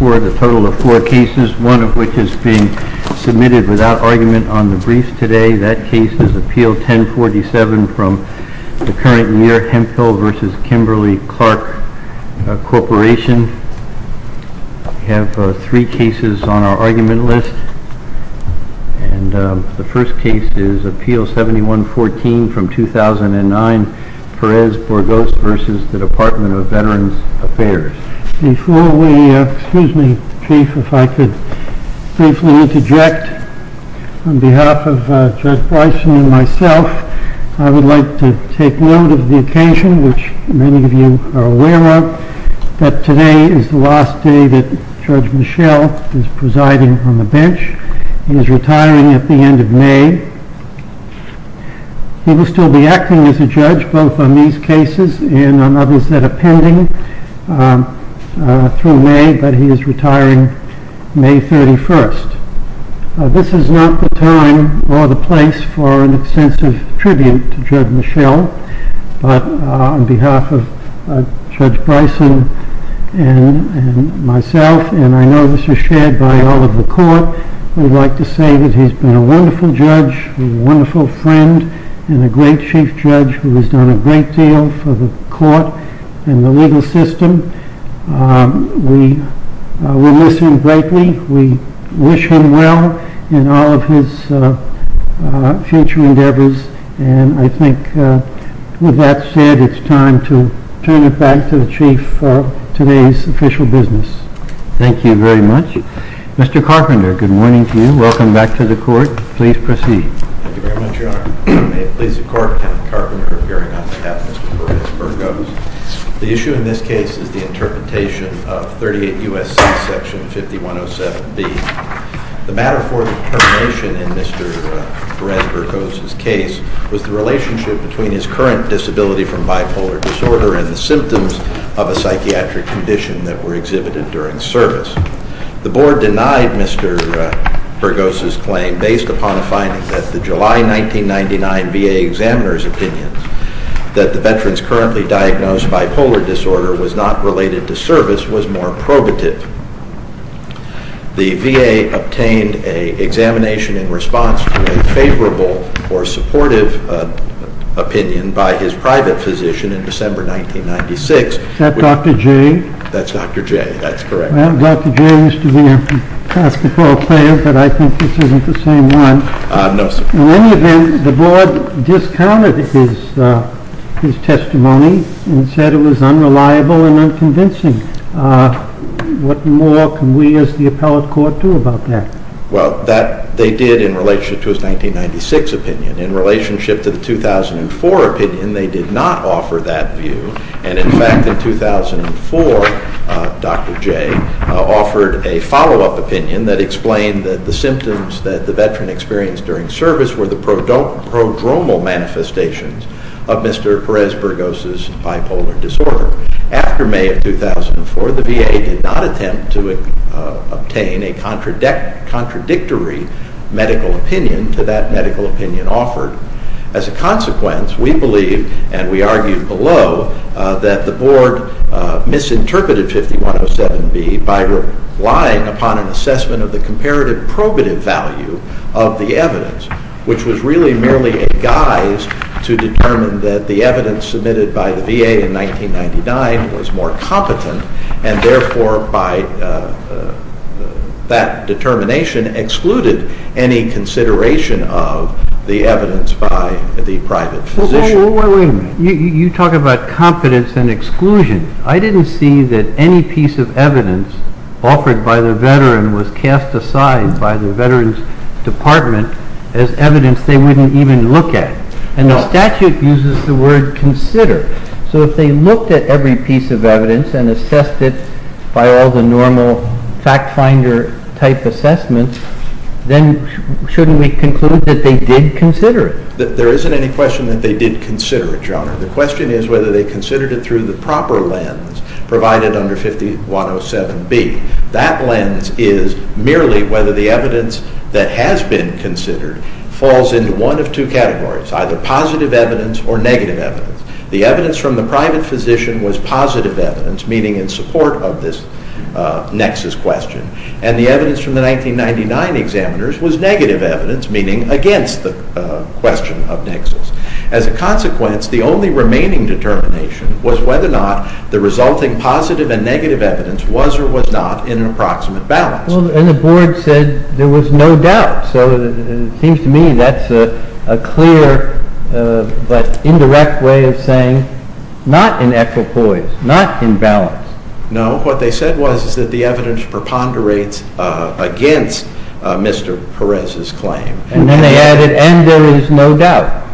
We have a total of four cases, one of which is being submitted without argument on the brief today. That case is Appeal 1047 from the current Muir-Hempel v. Kimberly-Clark Corporation. We have three cases on our argument list. The first case is Appeal 7114 from 2009, Perez-Burgos v. Department of Veterans Affairs. Before we, excuse me, Chief, if I could briefly interject on behalf of Judge Bison and myself, I would like to take note of the occasion which many of you are aware of, that today is the last day that Judge Michel is presiding on the bench. He is retiring at the end of May. He will still be acting as a judge, both on these cases and on others that are pending through May, but he is retiring May 31st. This is not the time or the place for an extensive tribute to Judge Michel, but on behalf of Judge Bison and myself, and I know this is shared by all of the Court, we would like to say that he has been a wonderful judge, a wonderful friend, and a great Chief Judge who has done a great deal for the Court and the legal system. We will miss him greatly. We wish him well in all of his future endeavors, and I think with that said, it is time to turn it back to the Chief for today's official business. Thank you very much. Thank you. Mr. Carpenter, good morning to you. Welcome back to the Court. Please proceed. Thank you very much, Your Honor. May it please the Court, Kenneth Carpenter appearing on behalf of Mr. Perez-Burgos. The issue in this case is the interpretation of 38 U.S.C. Section 5107B. The matter for determination in Mr. Perez-Burgos' case was the relationship between his current disability from bipolar disorder and the symptoms of a psychiatric condition that were exhibited during service. The Board denied Mr. Burgos' claim based upon a finding that the July 1999 VA examiner's opinion that the veteran's currently diagnosed bipolar disorder was not related to service was more probative. The VA obtained an examination in response to a favorable or supportive opinion by his private physician in December 1996. Is that Dr. J.? That's Dr. J., that's correct. Well, Dr. J. used to be a basketball player, but I think this isn't the same one. No, sir. In any event, the Board discounted his testimony and said it was unreliable and unconvincing. What more can we as the appellate court do about that? Well, they did in relationship to his 1996 opinion. In relationship to the 2004 opinion, they did not offer that view, and in fact in 2004 Dr. J. offered a follow-up opinion that explained that the symptoms that the veteran experienced during service were the prodromal manifestations of Mr. Perez-Burgos' bipolar disorder. After May of 2004, the VA did not attempt to obtain a contradictory medical opinion to that medical opinion offered. As a consequence, we believe, and we argued below, that the Board misinterpreted 5107B by relying upon an assessment of the comparative probative value of the evidence, which was really merely a guise to determine that the evidence submitted by the VA in 1999 was more competent and therefore by that determination excluded any consideration of the evidence by the private physician. Wait a minute. You talk about competence and exclusion. I didn't see that any piece of evidence offered by the veteran was cast aside by the Veterans Department as evidence they wouldn't even look at. And the statute uses the word consider. So if they looked at every piece of evidence and assessed it by all the normal fact-finder type assessments, then shouldn't we conclude that they did consider it? There isn't any question that they did consider it, Your Honor. The question is whether they considered it through the proper lens provided under 5107B. That lens is merely whether the evidence that has been considered falls into one of two categories, either positive evidence or negative evidence. The evidence from the private physician was positive evidence, meaning in support of this nexus question, and the evidence from the 1999 examiners was negative evidence, meaning against the question of nexus. As a consequence, the only remaining determination was whether or not the resulting positive and negative evidence was or was not in an approximate balance. And the board said there was no doubt. So it seems to me that's a clear but indirect way of saying not in equipoise, not in balance. No. What they said was that the evidence preponderates against Mr. Perez's claim. And then they added, and there is no doubt.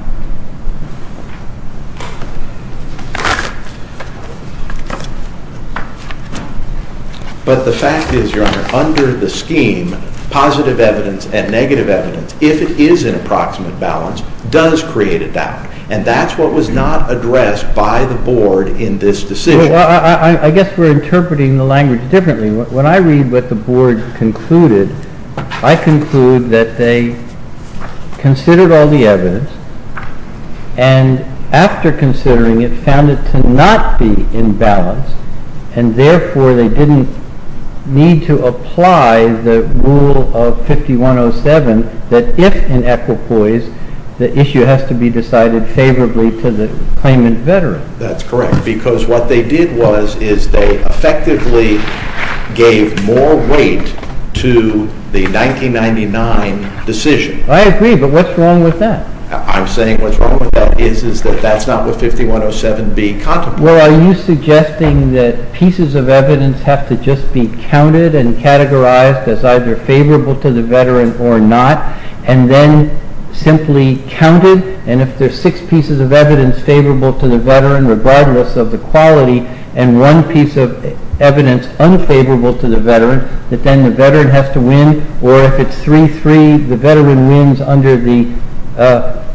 But the fact is, Your Honor, under the scheme, positive evidence and negative evidence, if it is in approximate balance, does create a doubt. And that's what was not addressed by the board in this decision. Well, I guess we're interpreting the language differently. When I read what the board concluded, I conclude that they considered all the evidence, and after considering it, found it to not be in balance, and therefore they didn't need to apply the rule of 5107 that if in equipoise, the issue has to be decided favorably to the claimant veteran. That's correct. Because what they did was is they effectively gave more weight to the 1999 decision. I agree, but what's wrong with that? I'm saying what's wrong with that is that that's not what 5107B contemplates. Well, are you suggesting that pieces of evidence have to just be counted and categorized as either favorable to the veteran or not, and then simply counted? And if there are six pieces of evidence favorable to the veteran, regardless of the quality, that then the veteran has to win, or if it's 3-3, the veteran wins under the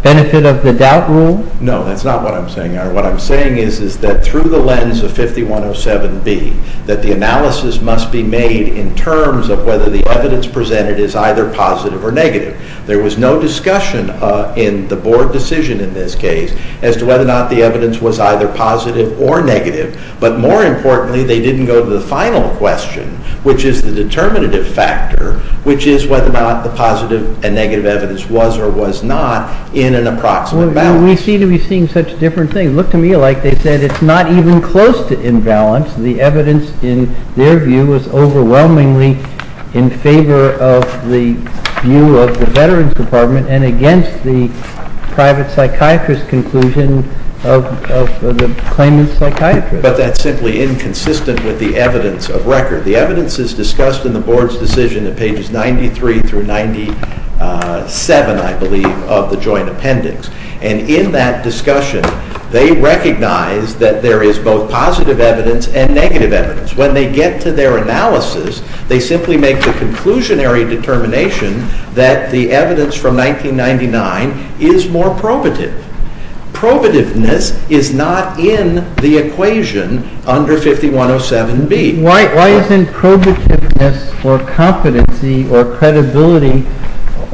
benefit of the doubt rule? No, that's not what I'm saying. What I'm saying is that through the lens of 5107B, that the analysis must be made in terms of whether the evidence presented is either positive or negative. There was no discussion in the board decision in this case as to whether or not the evidence was either positive or negative, but more importantly, they didn't go to the final question, which is the determinative factor, which is whether or not the positive and negative evidence was or was not in an approximate balance. We seem to be seeing such different things. Look to me like they said it's not even close to imbalance. The evidence, in their view, was overwhelmingly in favor of the view of the Veterans Department and against the private psychiatrist's conclusion of the claimant's psychiatrist. But that's simply inconsistent with the evidence of record. The evidence is discussed in the board's decision at pages 93 through 97, I believe, of the joint appendix. And in that discussion, they recognize that there is both positive evidence and negative evidence. When they get to their analysis, they simply make the conclusionary determination that the evidence from 1999 is more probative. Probativeness is not in the equation under 5107B. Why isn't probativeness or competency or credibility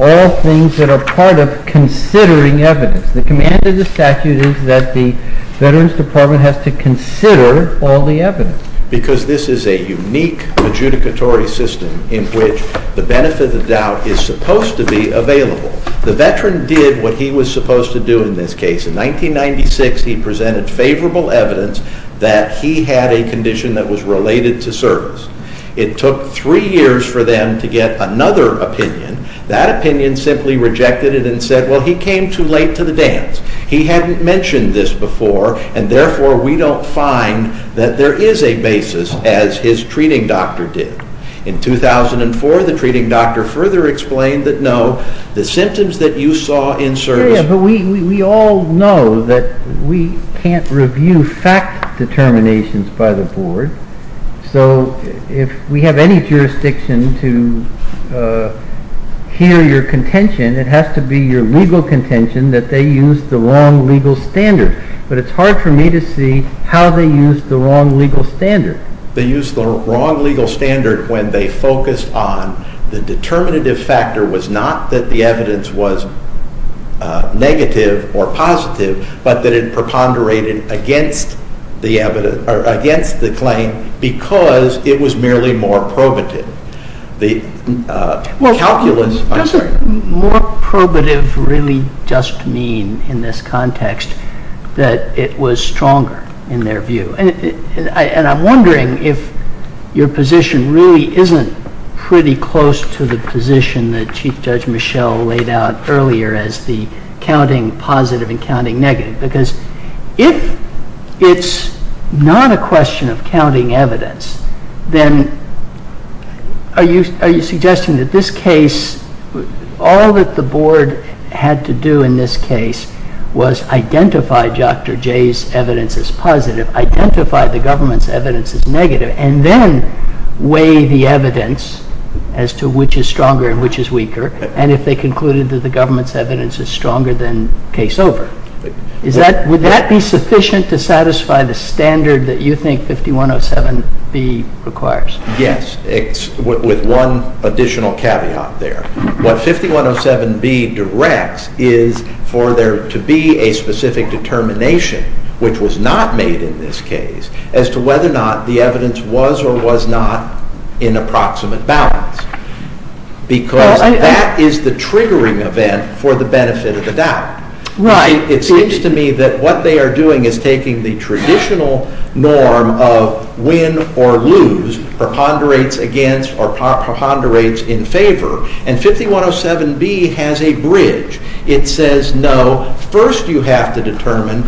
all things that are part of considering evidence? The command of the statute is that the Veterans Department has to consider all the evidence. Because this is a unique adjudicatory system in which the benefit of the doubt is supposed to be available. The Veteran did what he was supposed to do in this case. In 1996, he presented favorable evidence that he had a condition that was related to service. It took three years for them to get another opinion. That opinion simply rejected it and said, well, he came too late to the dance. He hadn't mentioned this before, and therefore we don't find that there is a basis as his treating doctor did. In 2004, the treating doctor further explained that no, the symptoms that you saw in service... But we all know that we can't review fact determinations by the Board. So if we have any jurisdiction to hear your contention, it has to be your legal contention that they used the wrong legal standard. But it's hard for me to see how they used the wrong legal standard. They used the wrong legal standard when they focused on the determinative factor was not that the evidence was negative or positive, but that it preponderated against the claim because it was merely more probative. The calculus... Does more probative really just mean in this context that it was stronger in their view? And I'm wondering if your position really isn't pretty close to the position that Chief Judge Michelle laid out earlier as the counting positive and counting negative, because if it's not a question of counting evidence, then are you suggesting that this case, all that the Board had to do in this case was identify Dr. J's evidence as positive, identify the government's evidence as negative, and then weigh the evidence as to which is stronger and which is weaker, and if they concluded that the government's evidence is stronger, then case over. Would that be sufficient to satisfy the standard that you think 5107B requires? Yes, with one additional caveat there. What 5107B directs is for there to be a specific determination, which was not made in this case, as to whether or not the evidence was or was not in approximate balance, because that is the triggering event for the benefit of the doubt. It seems to me that what they are doing is taking the traditional norm of win or lose, preponderates against or preponderates in favor, and 5107B has a bridge. It says no, first you have to determine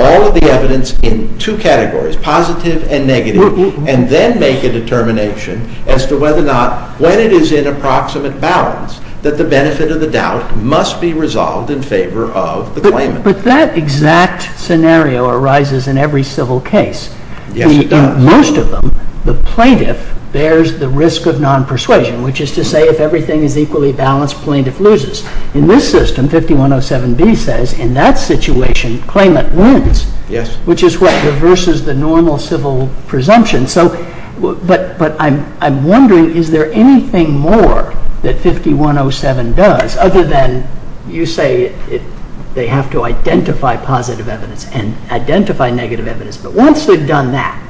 all of the evidence in two categories, positive and negative, and then make a determination as to whether or not, when it is in approximate balance, that the benefit of the doubt must be resolved in favor of the claimant. But that exact scenario arises in every civil case. Yes, it does. In most of them, the plaintiff bears the risk of non-persuasion, which is to say if everything is equally balanced, plaintiff loses. In this system, 5107B says, in that situation, claimant wins, which is what reverses the normal civil presumption. But I'm wondering, is there anything more that 5107 does, other than you say they have to identify positive evidence and identify negative evidence, but once they've done that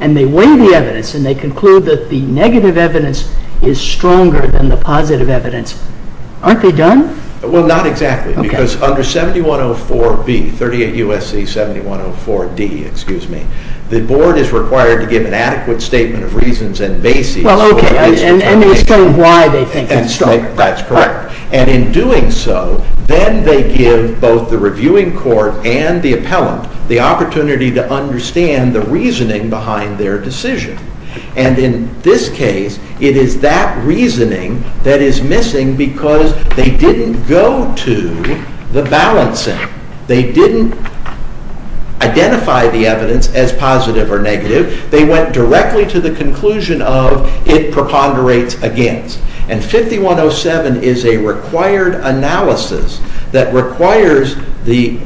and they weigh the evidence and they conclude that the negative evidence is stronger than the positive evidence, aren't they done? Well, not exactly, because under 7104B, 38 U.S.C. 7104D, the board is required to give an adequate statement of reasons and basis for this determination. And explain why they think it's stronger. That's correct. And in doing so, then they give both the reviewing court and the appellant the opportunity to understand the reasoning behind their decision. And in this case, it is that reasoning that is missing because they didn't go to the balancing. They didn't identify the evidence as positive or negative. They went directly to the conclusion of it preponderates against. And 5107 is a required analysis that requires the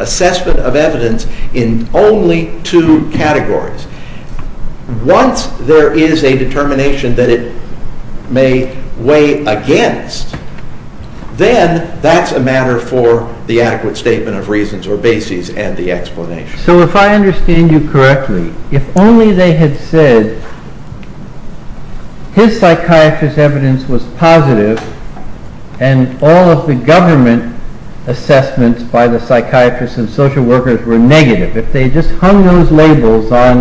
assessment of evidence in only two categories. Once there is a determination that it may weigh against, then that's a matter for the adequate statement of reasons or basis and the explanation. So if I understand you correctly, if only they had said his psychiatrist's evidence was positive and all of the government assessments by the psychiatrists and social workers were negative, if they just hung those labels on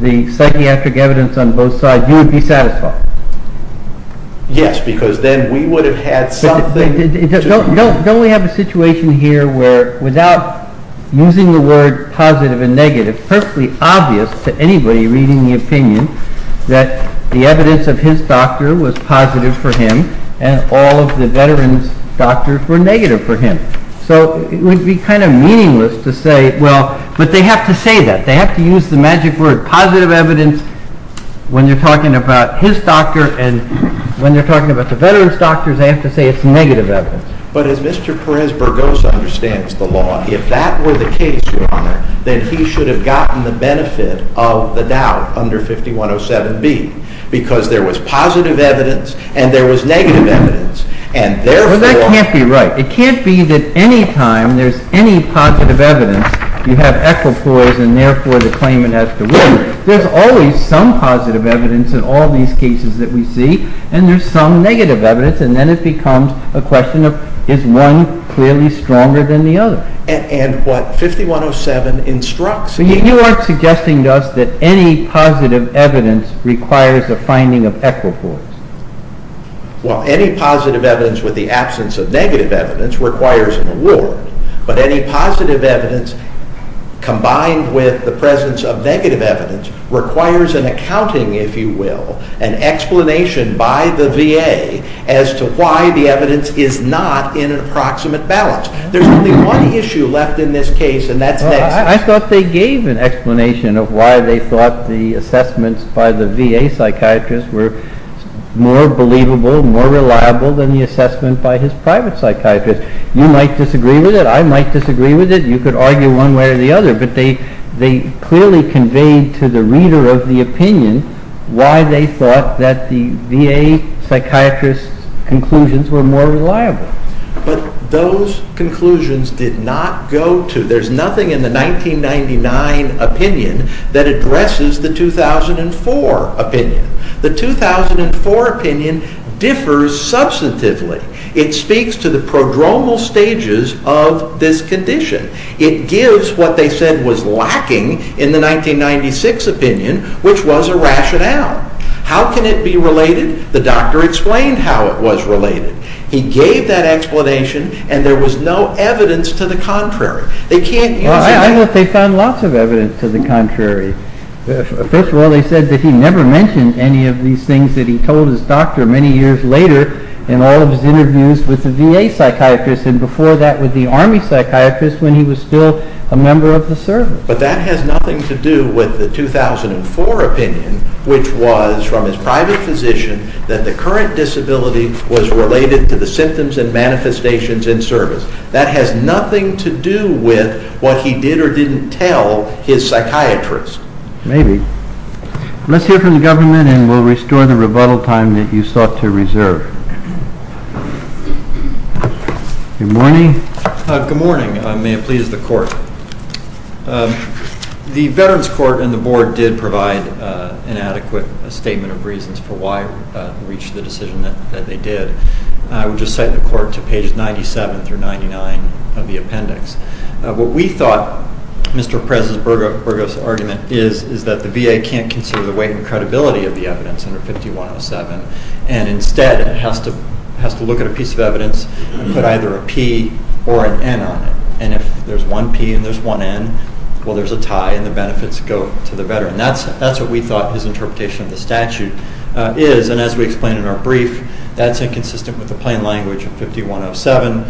the psychiatric evidence on both sides, you would be satisfied? Yes, because then we would have had something to prove. Don't we have a situation here where without using the word positive and negative, it's perfectly obvious to anybody reading the opinion that the evidence of his doctor was positive for him and all of the veterans' doctors were negative for him. So it would be kind of meaningless to say, well, but they have to say that. They have to use the magic word positive evidence when they're talking about his doctor and when they're talking about the veterans' doctors, they have to say it's negative evidence. But as Mr. Perez-Burgos understands the law, if that were the case, Your Honor, then he should have gotten the benefit of the doubt under 5107B because there was positive evidence and there was negative evidence and therefore— Well, that can't be right. It can't be that any time there's any positive evidence, you have equipoise and therefore the claimant has to win. There's always some positive evidence in all these cases that we see and there's some negative evidence and then it becomes a question of is one clearly stronger than the other. And what 5107 instructs— You aren't suggesting to us that any positive evidence requires a finding of equipoise. Well, any positive evidence with the absence of negative evidence requires an award, but any positive evidence combined with the presence of negative evidence requires an accounting, if you will, an explanation by the VA as to why the evidence is not in an approximate balance. There's only one issue left in this case and that's— I thought they gave an explanation of why they thought the assessments by the VA psychiatrist were more believable, more reliable than the assessment by his private psychiatrist. You might disagree with it, I might disagree with it, you could argue one way or the other, but they clearly conveyed to the reader of the opinion why they thought that the VA psychiatrist's conclusions were more reliable. But those conclusions did not go to— There's nothing in the 1999 opinion that addresses the 2004 opinion. The 2004 opinion differs substantively. It speaks to the prodromal stages of this condition. It gives what they said was lacking in the 1996 opinion, which was a rationale. How can it be related? The doctor explained how it was related. He gave that explanation and there was no evidence to the contrary. They can't— Well, I hope they found lots of evidence to the contrary. First of all, they said that he never mentioned any of these things that he told his doctor many years later in all of his interviews with the VA psychiatrist and before that with the Army psychiatrist when he was still a member of the service. But that has nothing to do with the 2004 opinion, which was from his private physician that the current disability was related to the symptoms and manifestations in service. That has nothing to do with what he did or didn't tell his psychiatrist. Maybe. Let's hear from the government and we'll restore the rebuttal time that you sought to reserve. Good morning. Good morning. May it please the court. The Veterans Court and the board did provide an adequate statement of reasons for why they reached the decision that they did. I would just cite the court to pages 97 through 99 of the appendix. What we thought Mr. Perez's Burgos argument is, is that the VA can't consider the weight and credibility of the evidence under 5107 and instead it has to look at a piece of evidence and put either a P or an N on it. And if there's one P and there's one N, well, there's a tie and the benefits go to the veteran. That's what we thought his interpretation of the statute is. And as we explained in our brief, that's inconsistent with the plain language of 5107.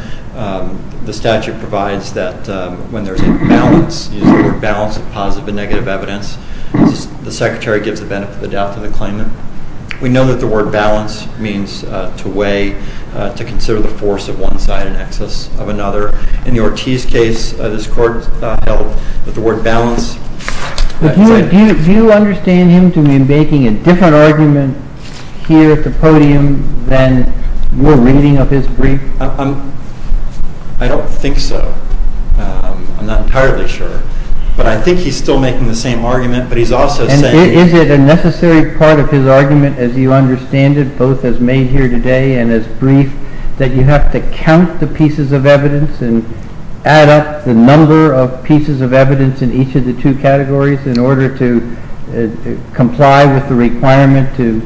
The statute provides that when there's a balance, a balance of positive and negative evidence, the secretary gives the benefit of the doubt to the claimant. We know that the word balance means to weigh, to consider the force of one side in excess of another. In the Ortiz case, this court held that the word balance… Do you understand him to be making a different argument here at the podium than your reading of his brief? I don't think so. I'm not entirely sure. But I think he's still making the same argument, but he's also saying… Is it a necessary part of his argument, as you understand it, both as made here today and as brief, that you have to count the pieces of evidence and add up the number of pieces of evidence in each of the two categories in order to comply with the requirement to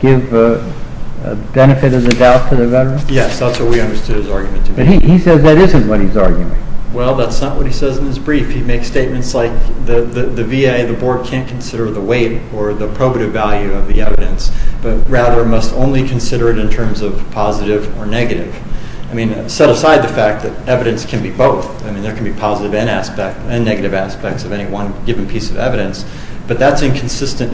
give benefit of the doubt to the veteran? Yes, that's what we understood his argument to be. But he says that isn't what he's arguing. Well, that's not what he says in his brief. He makes statements like the VA and the board can't consider the weight or the probative value of the evidence, but rather must only consider it in terms of positive or negative. I mean, set aside the fact that evidence can be both. I mean, there can be positive and negative aspects of any one given piece of evidence, but that's inconsistent.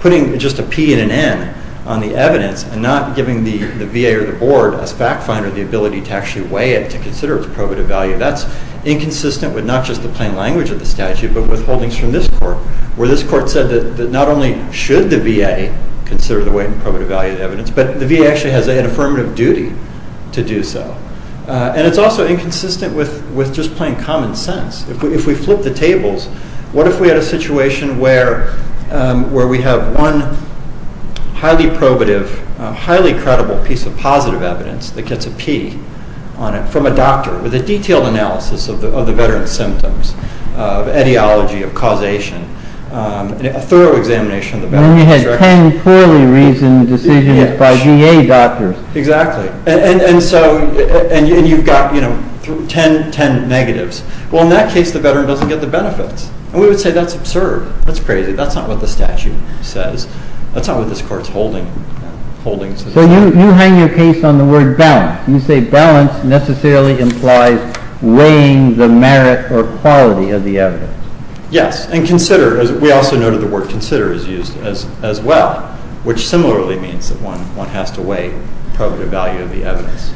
Putting just a P and an N on the evidence and not giving the VA or the board as fact finder the ability to actually weigh it, to consider its probative value, that's inconsistent with not just the plain language of the statute, but with holdings from this court, where this court said that not only should the VA consider the weight and probative value of the evidence, but the VA actually has an affirmative duty to do so. And it's also inconsistent with just plain common sense. If we flip the tables, what if we had a situation where we have one highly probative, highly credible piece of positive evidence that gets a P on it from a doctor with a detailed analysis of the veteran's symptoms, of etiology, of causation, a thorough examination of the veteran's records. When we had 10 poorly reasoned decisions by VA doctors. Exactly. And you've got 10 negatives. Well, in that case, the veteran doesn't get the benefits. And we would say that's absurd. That's crazy. That's not what the statute says. That's not what this court is holding. So you hang your case on the word balance. You say balance necessarily implies weighing the merit or quality of the evidence. Yes. And consider, as we also noted, the word consider is used as well, which similarly means that one has to weigh probative value of the evidence.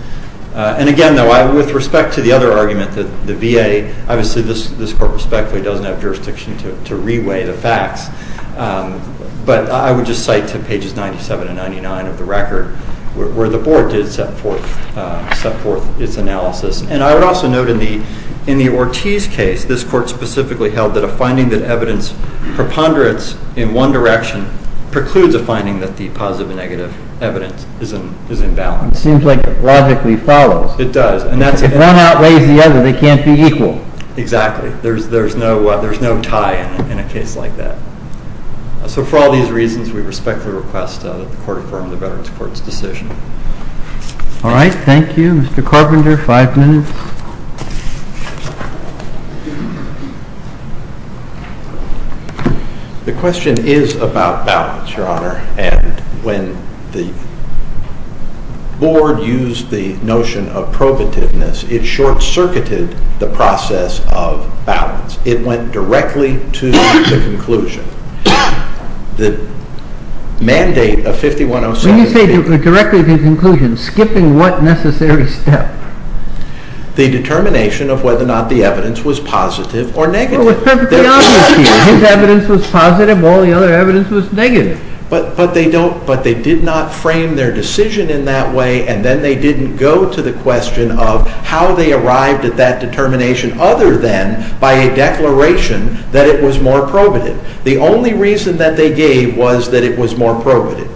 And again, though, with respect to the other argument, the VA, obviously this court respectfully doesn't have jurisdiction to re-weigh the facts. But I would just cite to pages 97 and 99 of the record where the board did set forth its analysis. And I would also note in the Ortiz case, this court specifically held that a finding that evidence preponderance in one direction precludes a finding that the positive and negative evidence is in balance. It seems like it logically follows. It does. If one outweighs the other, they can't be equal. Exactly. There's no tie in a case like that. So for all these reasons, we respectfully request that the court affirm the Veterans Court's decision. All right. Thank you. Mr. Carpenter, five minutes. The question is about balance, Your Honor, and when the board used the notion of probativeness, it short-circuited the process of balance. It went directly to the conclusion. The mandate of 5107- When you say directly to the conclusion, skipping what necessary step? The determination of whether or not the evidence was positive or negative. His evidence was positive while the other evidence was negative. But they did not frame their decision in that way, and then they didn't go to the question of how they arrived at that determination other than by a declaration that it was more probative. The only reason that they gave was that it was more probative.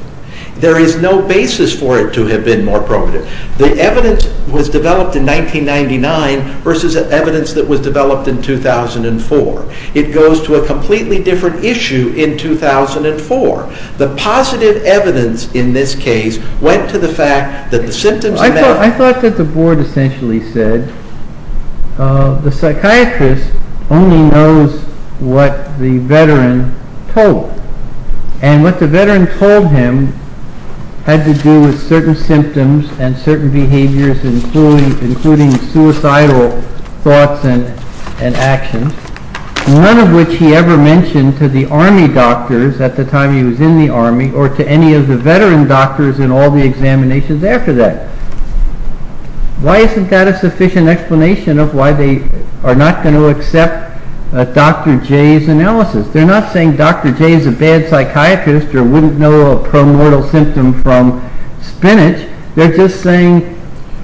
There is no basis for it to have been more probative. The evidence was developed in 1999 versus evidence that was developed in 2004. It goes to a completely different issue in 2004. The positive evidence in this case went to the fact that the symptoms- I thought that the board essentially said the psychiatrist only knows what the veteran told him, and what the veteran told him had to do with certain symptoms and certain behaviors, including suicidal thoughts and actions, none of which he ever mentioned to the army doctors at the time he was in the army or to any of the veteran doctors in all the examinations after that. Why isn't that a sufficient explanation of why they are not going to accept Dr. J's analysis? They're not saying Dr. J is a bad psychiatrist or wouldn't know a pro-mortal symptom from spinach. They're just saying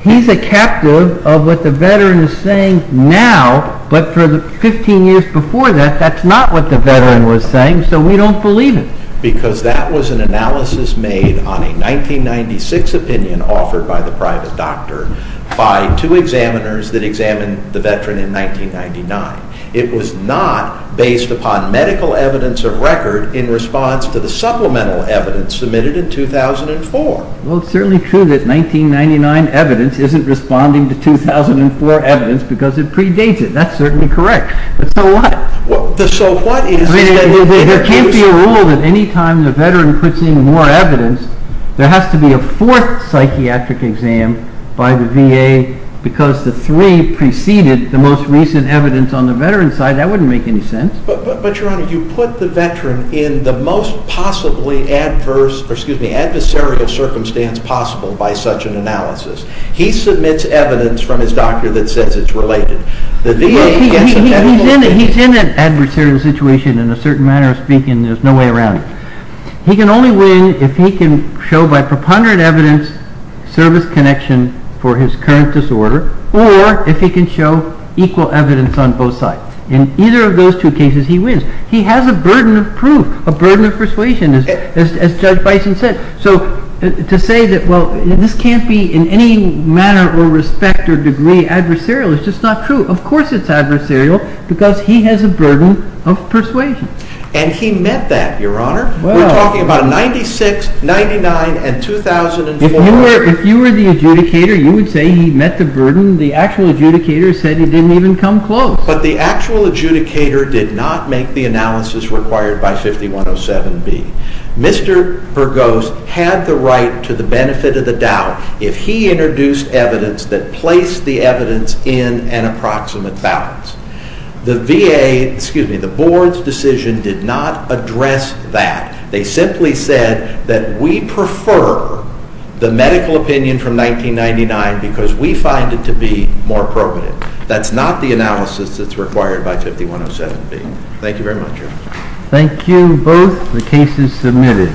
he's a captive of what the veteran is saying now, but for the 15 years before that, that's not what the veteran was saying, so we don't believe it. Because that was an analysis made on a 1996 opinion offered by the private doctor by two examiners that examined the veteran in 1999. It was not based upon medical evidence of record in response to the supplemental evidence submitted in 2004. Well, it's certainly true that 1999 evidence isn't responding to 2004 evidence because it predates it. That's certainly correct, but so what? There can't be a rule that any time the veteran puts in more evidence, there has to be a fourth psychiatric exam by the VA because the three preceded the most recent evidence on the veteran's side. That wouldn't make any sense. But, Your Honor, you put the veteran in the most possibly adversarial circumstance possible by such an analysis. He submits evidence from his doctor that says it's related. He's in an adversarial situation in a certain manner of speaking. There's no way around it. He can only win if he can show by preponderant evidence service connection for his current disorder or if he can show equal evidence on both sides. In either of those two cases, he wins. He has a burden of proof, a burden of persuasion, as Judge Bison said. So to say that, well, this can't be in any manner or respect or degree adversarial is just not true. Of course it's adversarial because he has a burden of persuasion. And he met that, Your Honor. We're talking about 1996, 1999, and 2004. If you were the adjudicator, you would say he met the burden. The actual adjudicator said he didn't even come close. But the actual adjudicator did not make the analysis required by 5107B. Mr. Burgos had the right to the benefit of the doubt if he introduced evidence that placed the evidence in an approximate balance. The VA, excuse me, the Board's decision did not address that. They simply said that we prefer the medical opinion from 1999 because we find it to be more appropriate. That's not the analysis that's required by 5107B. Thank you very much, Your Honor. Thank you both. The case is submitted.